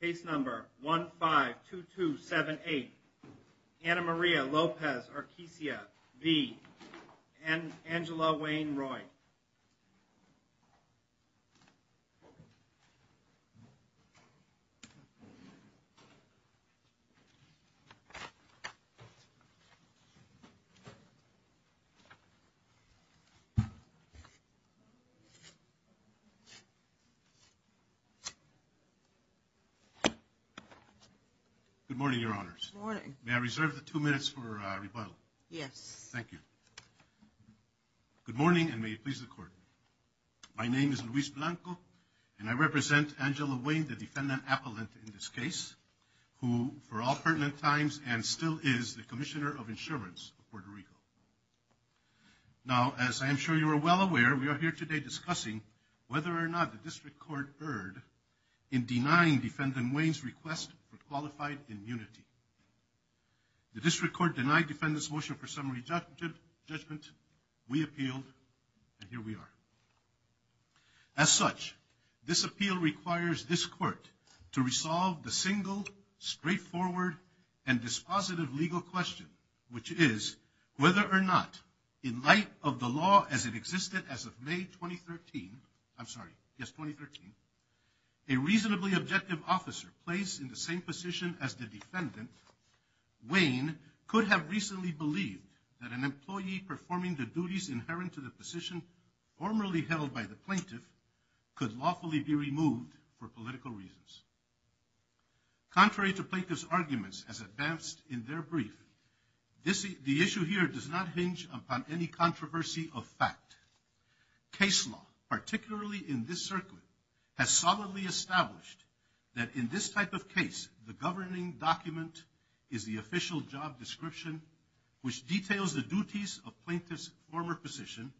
Case number 152278, Ana Maria Lopez-Erquicia v. Angela Weyne-Roig. Good morning, Your Honors. Good morning. May I reserve the two minutes for rebuttal? Yes. Thank you. Good morning, and may it please the Court. My name is Luis Blanco, and I represent Angela Weyne, the defendant appellant in this case, who for all pertinent times and still is the Commissioner of Insurance of Puerto Rico. Now, as I am sure you are well aware, we are here today discussing whether or not the District Court erred in denying Defendant Weyne's request for qualified immunity. The District Court denied defendants' motion for summary judgment. We appealed, and here we are. As such, this appeal requires this Court to resolve the single, straightforward, and dispositive legal question, which is whether or not, in light of the law as it existed as of May 2013, I'm sorry, yes, 2013, a reasonably objective officer placed in the same position as the defendant, Weyne, could have recently believed that an employee performing the duties inherent to the position formerly held by the plaintiff could lawfully be removed for political reasons. Contrary to plaintiff's advance in their brief, the issue here does not hinge upon any controversy of fact. Case law, particularly in this circuit, has solidly established that in this type of case, the governing document is the official job description, which details the duties of plaintiff's former position.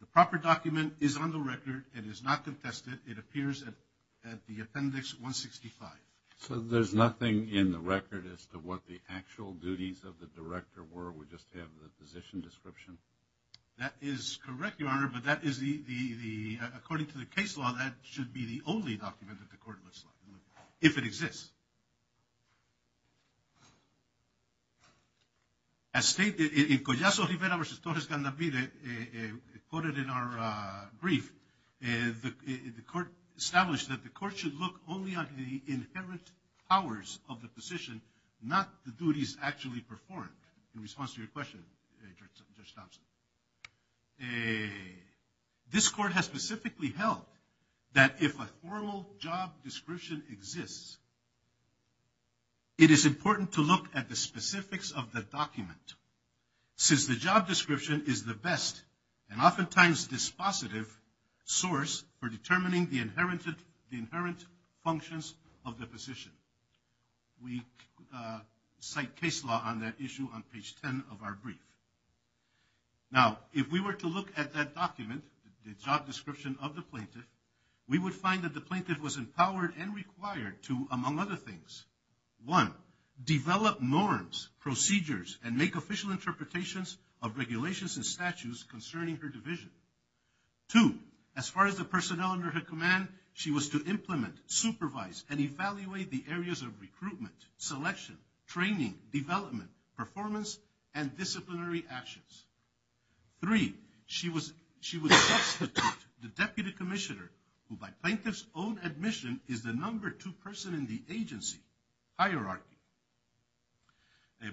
The proper document is on the record and is not contested. It appears at the Appendix 165. So there's nothing in the record as to what the actual duties of the director were? We just have the position description? That is correct, Your Honor, but that is the, according to the case law, that should be the only document that the Court looks like, if it exists. As stated in Collazo Rivera v. Torres Gandavide, quoted in our brief, the Court established that the Court should look only at the inherent powers of the position, not the duties actually performed. In response to your question, Judge Thompson. This Court has specifically held that if a formal job description exists, it is important to look at the specifics of the document. Since the job description is the best, and oftentimes dispositive source for determining the inherent functions of the position. We cite case law on that issue on page 10 of our brief. Now, if we were to look at that document, the job description of the plaintiff, we would find that the plaintiff was empowered and required to, among other things, one, develop norms, procedures, and make official interpretations of regulations and statutes concerning her division. Two, as far as the personnel under her command, she was to implement, supervise, and evaluate the areas of recruitment, selection, training, development, performance, and disciplinary actions. Three, she would substitute the Deputy Commissioner, who by plaintiff's own admission, is the number two person in the agency hierarchy.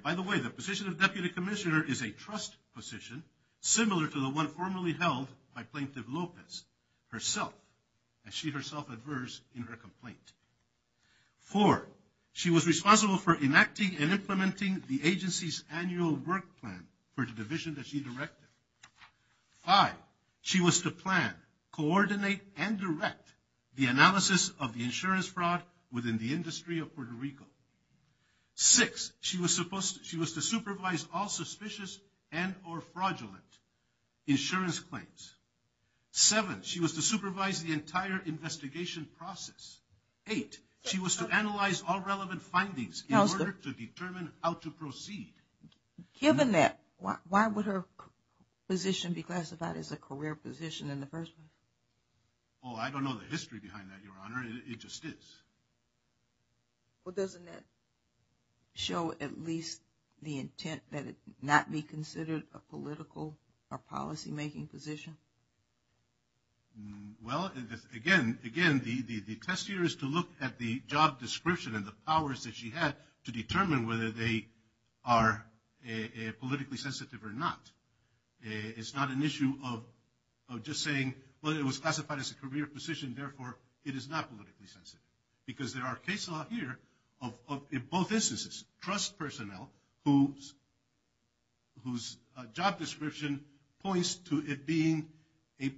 By the way, the position of Deputy Commissioner is a trust position, similar to the one formerly held by Plaintiff Lopez herself, as she herself adverse in her complaint. Four, she was responsible for enacting and implementing the agency's annual work plan for the division that she directed. Five, she was to plan, coordinate, and direct the analysis of the insurance fraud within the division. Six, she was to supervise all suspicious and or fraudulent insurance claims. Seven, she was to supervise the entire investigation process. Eight, she was to analyze all relevant findings in order to determine how to proceed. Given that, why would her position be classified as a career position in the first place? Oh, I don't know the history behind that, Your Honor. It just is. Well, doesn't that show at least the intent that it not be considered a political or policymaking position? Well, again, the test here is to look at the job description and the powers that she had to determine whether they are politically sensitive or not. It's not an issue of just saying, well, it was classified as a career position, therefore it is not politically sensitive. Because there are cases out here of, in both instances, trust personnel whose job description points to it being a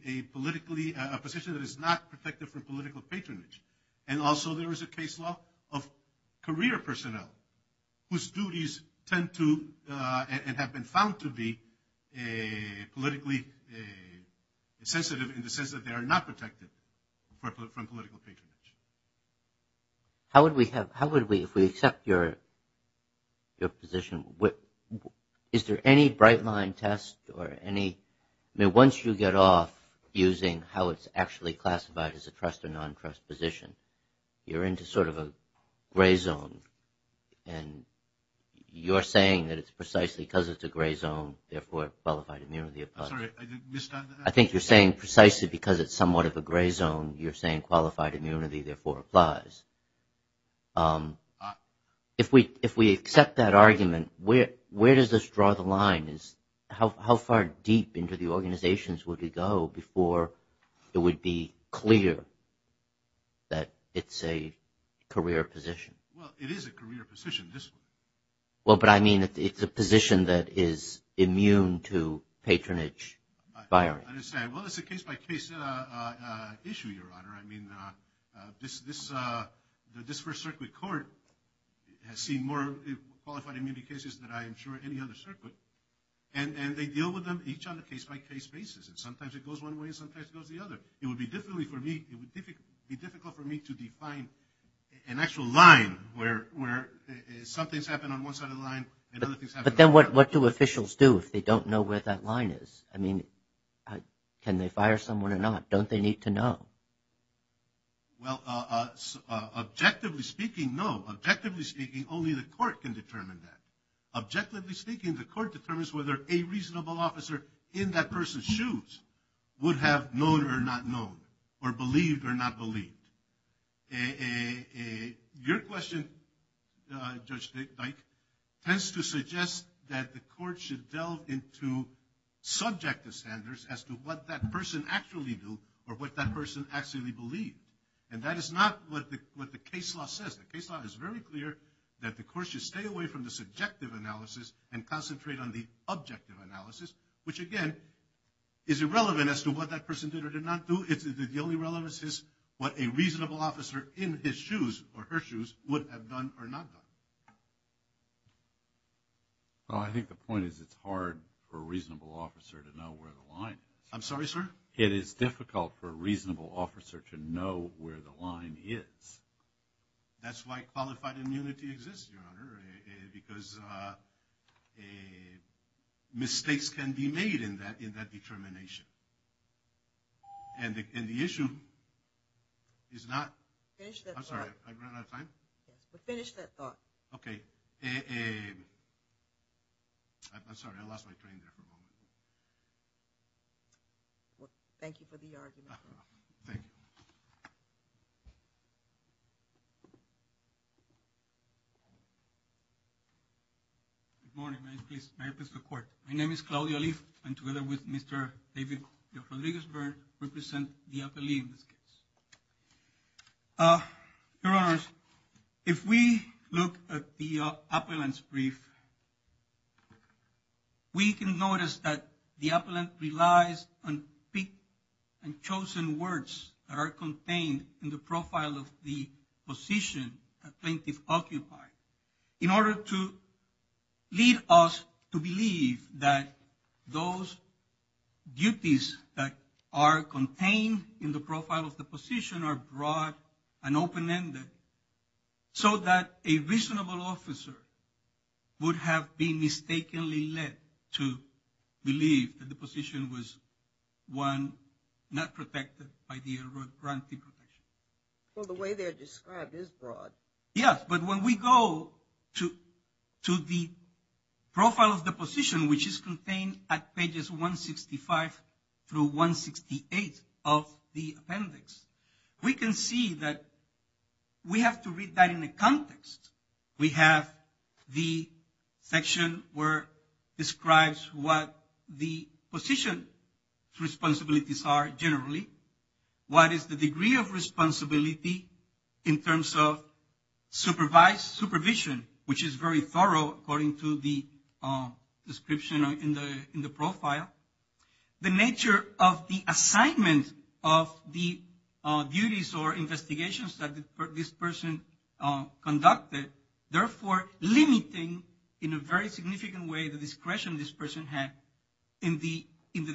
position that is not protected from political patronage. And also there is a case law of career personnel whose duties tend to and have been found to be politically sensitive in the are not protected from political patronage. How would we, if we accept your position, is there any bright line test or any, I mean, once you get off using how it's actually classified as a trust or non-trust position, you're into sort of a gray zone. And you're saying that it's somewhat of a gray zone. You're saying qualified immunity, therefore, applies. If we accept that argument, where does this draw the line? How far deep into the organizations would we go before it would be clear that it's a career position? Well, it is a career position. Well, but I mean, it's a position that is immune to patronage firing. I understand. Well, it's a case-by-case issue, Your Honor. I mean, this First Circuit Court has seen more qualified immunity cases than I am sure any other circuit. And they deal with them each on a case-by-case basis. And sometimes it goes one way and sometimes it goes the other. It would be some things happen on one side of the line and other things happen on the other. But then what do officials do if they don't know where that line is? I mean, can they fire someone or not? Don't they need to know? Well, objectively speaking, no. Objectively speaking, only the court can determine that. Objectively speaking, the court determines whether a reasonable officer in that person's shoes would have known or not known or believed or not believed. Your question, Judge Dyke, tends to suggest that the court should delve into subjective standards as to what that person actually do or what that person actually believe. And that is not what the case law says. The case law is very clear that the court should stay away from the subjective analysis and that a reasonable officer in his shoes or her shoes would have done or not done. Well, I think the point is it's hard for a reasonable officer to know where the line is. I'm sorry, sir? It is difficult for a reasonable officer to know where the line is. That's why qualified immunity exists, Your Honor, because mistakes can be made in that determination. And the issue is not... Finish that thought. I'm sorry, I ran out of time? Finish that thought. Okay. I'm sorry, I lost my train there for a moment. Thank you for the argument. Thank you. Good morning. May I please... May I please report? My name is Claudio Alif. I'm together with Mr. David Rodriguez-Byrne, who represents the appellee in this case. Your Honors, if we look at the appellant's brief, we can notice that the appellant relies on picked and chosen words that are contained in the profile of the position the plaintiff occupied in order to lead us to believe that those duties that are contained in the profile of the position are broad and open-ended so that a reasonable officer would have been mistakenly led to believe that the position was one not protected by the granting profession. Well, the way they're described is broad. Yes, but when we go to the profile of the position, which is contained at pages 165 through 168 of the appendix, we can see that we have to read that in a context. We have the section where it describes what the position responsibilities are generally. What is the degree of responsibility in terms of supervised supervision, which is very thorough according to the description in the profile. The nature of the assignment of the duties or investigations that this person conducted, therefore limiting in a very significant way the discretion this person had in the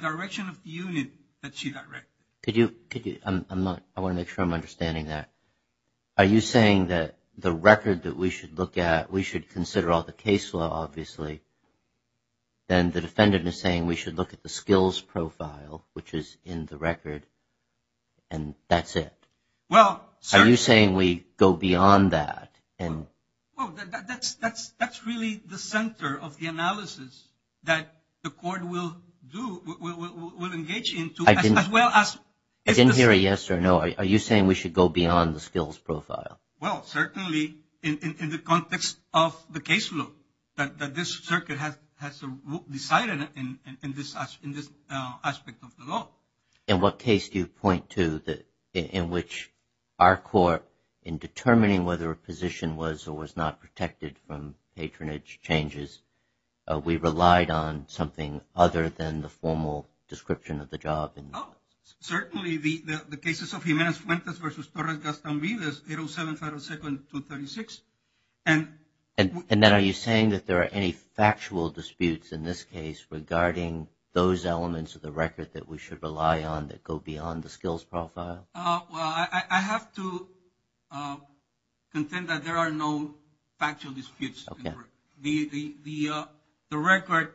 direction of the unit that she directed. I want to make sure I'm understanding that. Are you saying that the record that we should look at, we should consider all the case law, obviously, then the defendant is saying we should look at the skills profile, which is in the record, and that's it? Are you saying we go beyond that? Well, that's really the center of the analysis that the court will do, will engage into, as well as- I didn't hear a yes or no. Are you saying we should go beyond the skills profile? Well, certainly in the context of the case law that this circuit has decided in this aspect of the law. In what case do you point to in which our court, in determining whether a position was or was not protected from patronage changes, we relied on something other than the formal description of the job? Oh, certainly the cases of Jimenez-Fuentes versus Torres-Gaston-Vives, 807-502-236. And then are you saying that there are any factual disputes in this case regarding those elements of the record that we should rely on that go beyond the skills profile? Well, I have to contend that there are no factual disputes. Okay. The record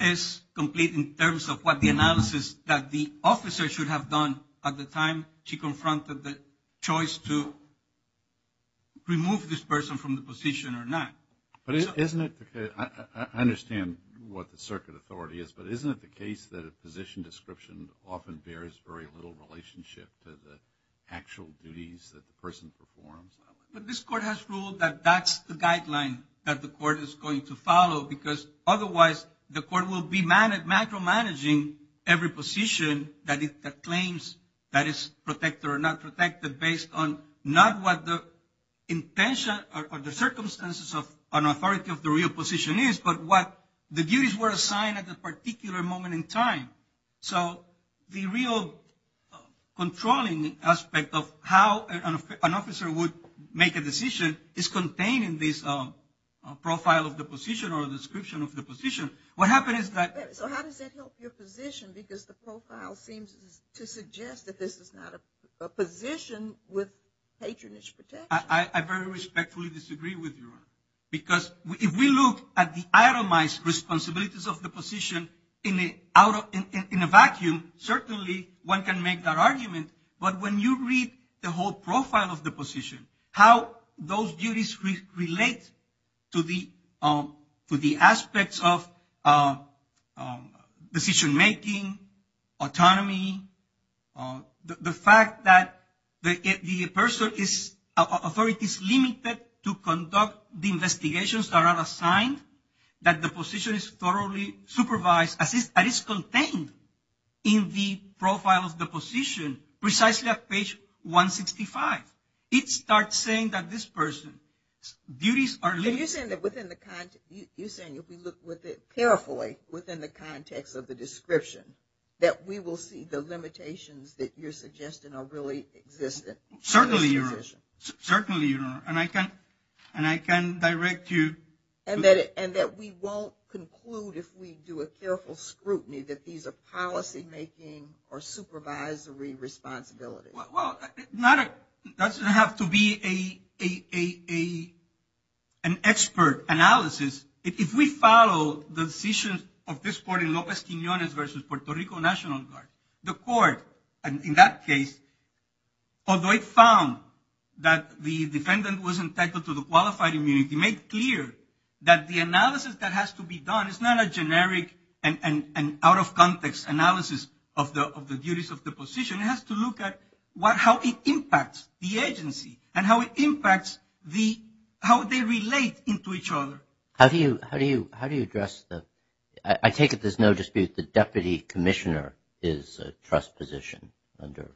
is complete in terms of what the analysis that the officer should have done at the time she confronted the choice to remove this person from the position or not. But isn't it- I understand what the circuit authority is, but isn't it the case that a position description often bears very little relationship to the actual duties that the person performs? But this court has ruled that that's the guideline that the court is going to follow, because otherwise the court will be macro-managing every position that claims that it's protected or not protected based on not what the intention or the circumstances of an authority of the real position is, but what the duties were assigned at the particular moment in time. So the real controlling aspect of how an officer would make a decision is contained in this profile of the position or description of the position. What happens is that- So how does that help your position? Because the profile seems to suggest that this is not a position with patronage protection. I very respectfully disagree with you, because if we look at the itemized responsibilities of the position in a vacuum, certainly one can make that argument, but when you read the whole profile of the position, how those duties relate to the aspects of decision-making, autonomy, the fact that the authority is limited to conduct the investigations that are assigned, that the position is thoroughly supervised, that is contained in the profile of the position, precisely at page 165, it starts saying that this person's duties are limited. Are you saying that if we look carefully within the context of the description, that we will see the limitations that you're suggesting are really existent? Certainly, Your Honor. And I can direct you- And that we won't conclude if we do a careful scrutiny that these are policy-making or supervisory responsibilities. Well, that doesn't have to be an expert analysis. If we follow the decisions of this court in Lopez-Quinones versus Puerto Rico National Guard, the court, in that case, although it found that the defendant was entitled to the qualified immunity, made clear that the analysis that has to be done is not a generic and out-of-context analysis of the duties of the position. It has to look at how it impacts the agency and how it impacts how they relate into each other. How do you address the – I take it there's no dispute the deputy commissioner is a trust position under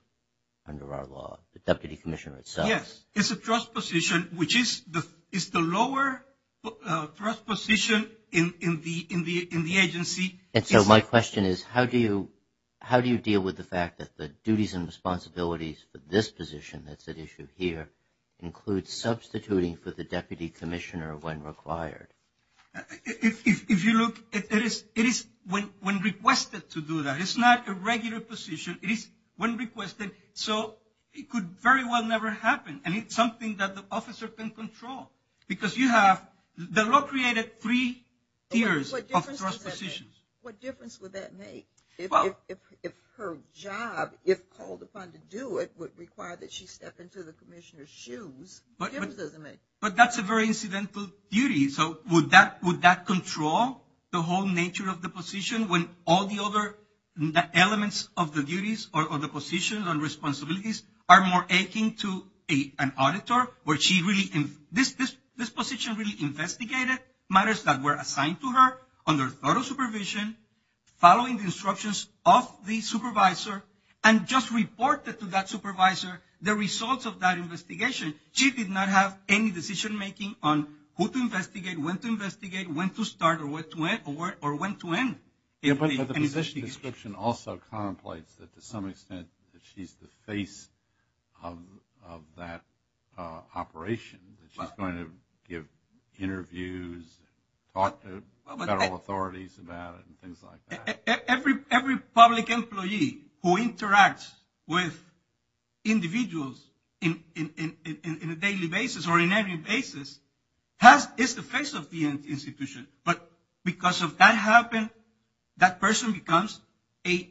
our law, the deputy commissioner itself. Yes, it's a trust position, which is the lower trust position in the agency. And so my question is, how do you deal with the fact that the duties and responsibilities for this position that's at issue here includes substituting for the deputy commissioner when required? If you look, it is when requested to do that. It's not a regular position. It is when requested, so it could very well never happen. And it's something that the officer can control. Because you have – the law created three tiers of trust positions. What difference would that make? If her job, if called upon to do it, would require that she step into the commissioner's shoes, what difference does it make? But that's a very incidental duty. So would that control the whole nature of the position when all the other elements of the duties or the positions and responsibilities are more akin to an auditor? This position really investigated matters that were assigned to her under thorough supervision, following the instructions of the supervisor, and just reported to that supervisor the results of that investigation. She did not have any decision-making on who to investigate, when to investigate, when to start or when to end. Yeah, but the position description also contemplates that to some extent that she's the face of that operation, that she's going to give interviews, talk to federal authorities about it and things like that. Every public employee who interacts with individuals in a daily basis or in any basis is the face of the institution. But because of that happen, that person becomes a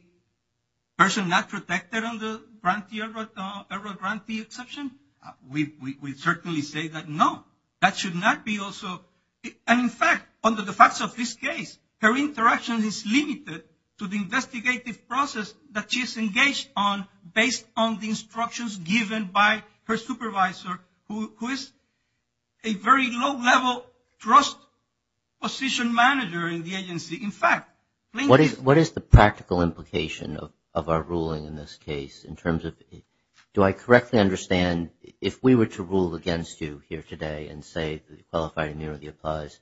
person not protected under grantee exception? We certainly say that, no, that should not be also. And in fact, under the facts of this case, her interaction is limited to the investigative process that she is engaged on based on the instructions given by her supervisor, who is a very low-level trust position manager in the agency. In fact, what is the practical implication of our ruling in this case in terms of, do I correctly understand, if we were to rule against you here today and say the qualified immunity applies,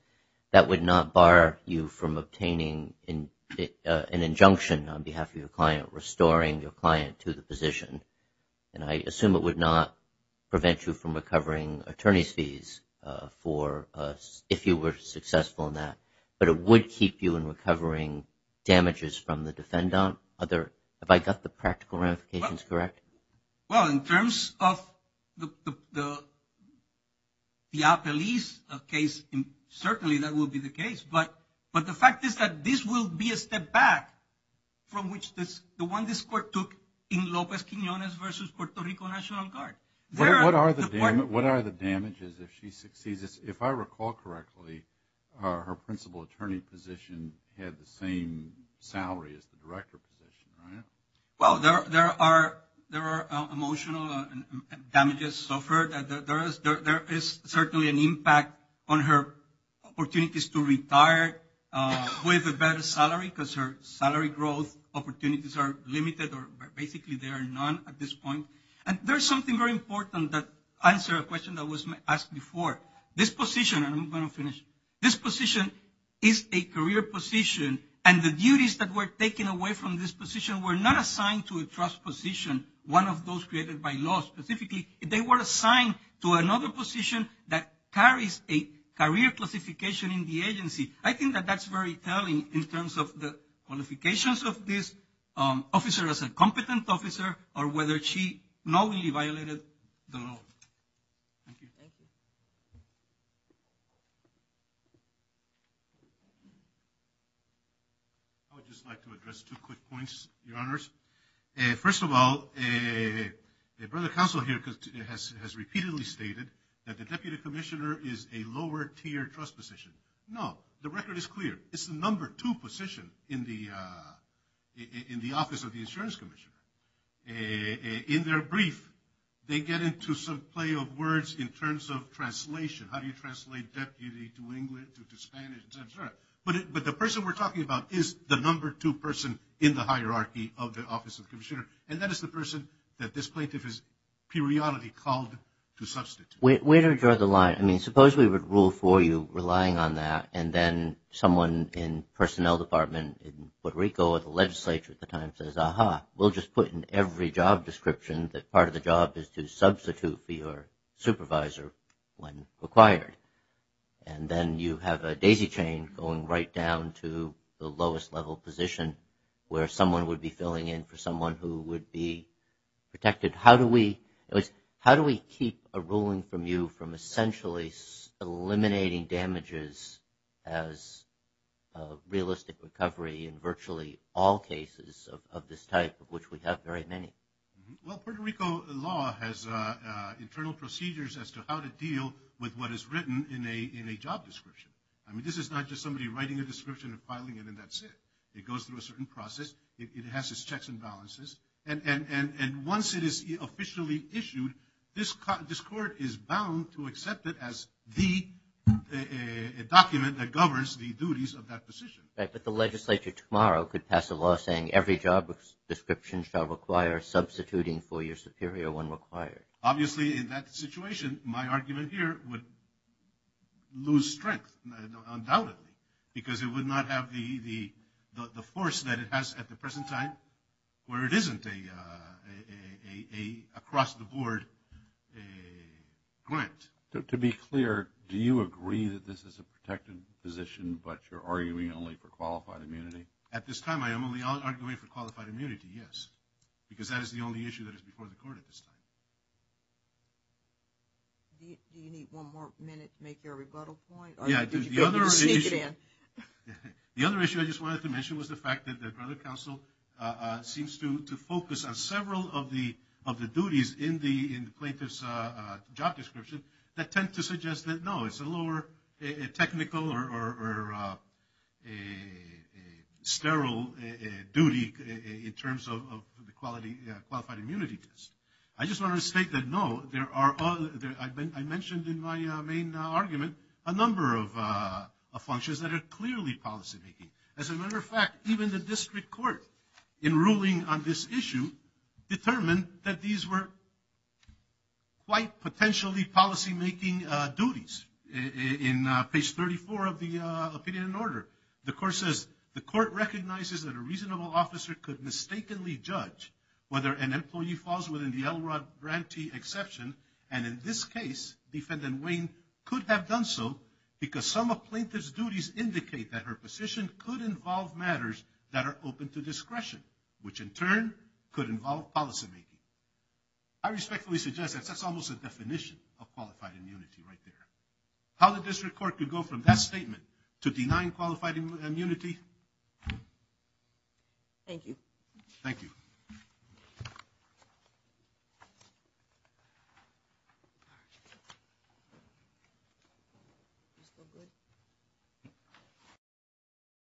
that would not bar you from obtaining an injunction on behalf of your client, restoring your client to the position? And I assume it would not prevent you from recovering attorney's fees for if you were successful in that, but it would keep you in recovering damages from the defendant? Have I got the practical ramifications correct? Well, in terms of the police case, certainly that would be the case. But the fact is that this will be a step back from which the one this court took in Lopez-Quinones versus Puerto Rico National Guard. What are the damages if she succeeds? If I recall correctly, her principal attorney position had the same salary as the director position, right? Well, there are emotional damages suffered. There is certainly an impact on her opportunities to retire with a better salary because her salary growth opportunities are limited or basically there are none at this point. And there is something very important that answers a question that was asked before. This position, and I'm going to finish, this position is a career position, and the duties that were taken away from this position were not assigned to a trust position, one of those created by law specifically. They were assigned to another position that carries a career classification in the agency. I think that that's very telling in terms of the qualifications of this officer as a competent officer or whether she knowingly violated the law. Thank you. I would just like to address two quick points, Your Honors. First of all, a brother counsel here has repeatedly stated that the deputy commissioner is a lower tier trust position. No, the record is clear. It's the number two position in the Office of the Insurance Commissioner. In their brief, they get into some play of words in terms of translation. How do you translate deputy to English, to Spanish, et cetera? But the person we're talking about is the number two person in the hierarchy of the Office of Commissioner, and that is the person that this plaintiff has periodically called to substitute. Where do we draw the line? I mean, suppose we would rule for you relying on that, and then someone in personnel department in Puerto Rico or the legislature at the time says, aha, we'll just put in every job description that part of the job is to substitute for your supervisor when required. And then you have a daisy chain going right down to the lowest level position where someone would be filling in for someone who would be protected. How do we keep a ruling from you from essentially eliminating damages as realistic recovery in virtually all cases of this type, of which we have very many? Well, Puerto Rico law has internal procedures as to how to deal with what is written in a job description. I mean, this is not just somebody writing a description and filing it, and that's it. It goes through a certain process. It has its checks and balances. And once it is officially issued, this court is bound to accept it as the document that governs the duties of that position. Right, but the legislature tomorrow could pass a law saying every job description shall require substituting for your superior when required. Obviously, in that situation, my argument here would lose strength, undoubtedly, because it would not have the force that it has at the present time where it isn't an across-the-board grant. To be clear, do you agree that this is a protected position, but you're arguing only for qualified immunity? At this time, I am only arguing for qualified immunity, yes, because that is the only issue that is before the court at this time. Do you need one more minute to make your rebuttal point? Yeah, the other issue I just wanted to mention was the fact that the Federal Council seems to focus on several of the duties in the plaintiff's job description that tend to suggest that, no, it's a lower technical or sterile duty in terms of the qualified immunity test. I just want to state that, no, I mentioned in my main argument a number of functions that are clearly policymaking. As a matter of fact, even the district court in ruling on this issue determined that these were quite potentially policymaking duties. In page 34 of the opinion and order, the court says, that a reasonable officer could mistakenly judge whether an employee falls within the LROD grantee exception, and in this case, defendant Wayne could have done so because some of plaintiff's duties indicate that her position could involve matters that are open to discretion, which in turn could involve policymaking. I respectfully suggest that that's almost a definition of qualified immunity right there. How the district court could go from that statement to denying qualified immunity? Thank you. Thank you.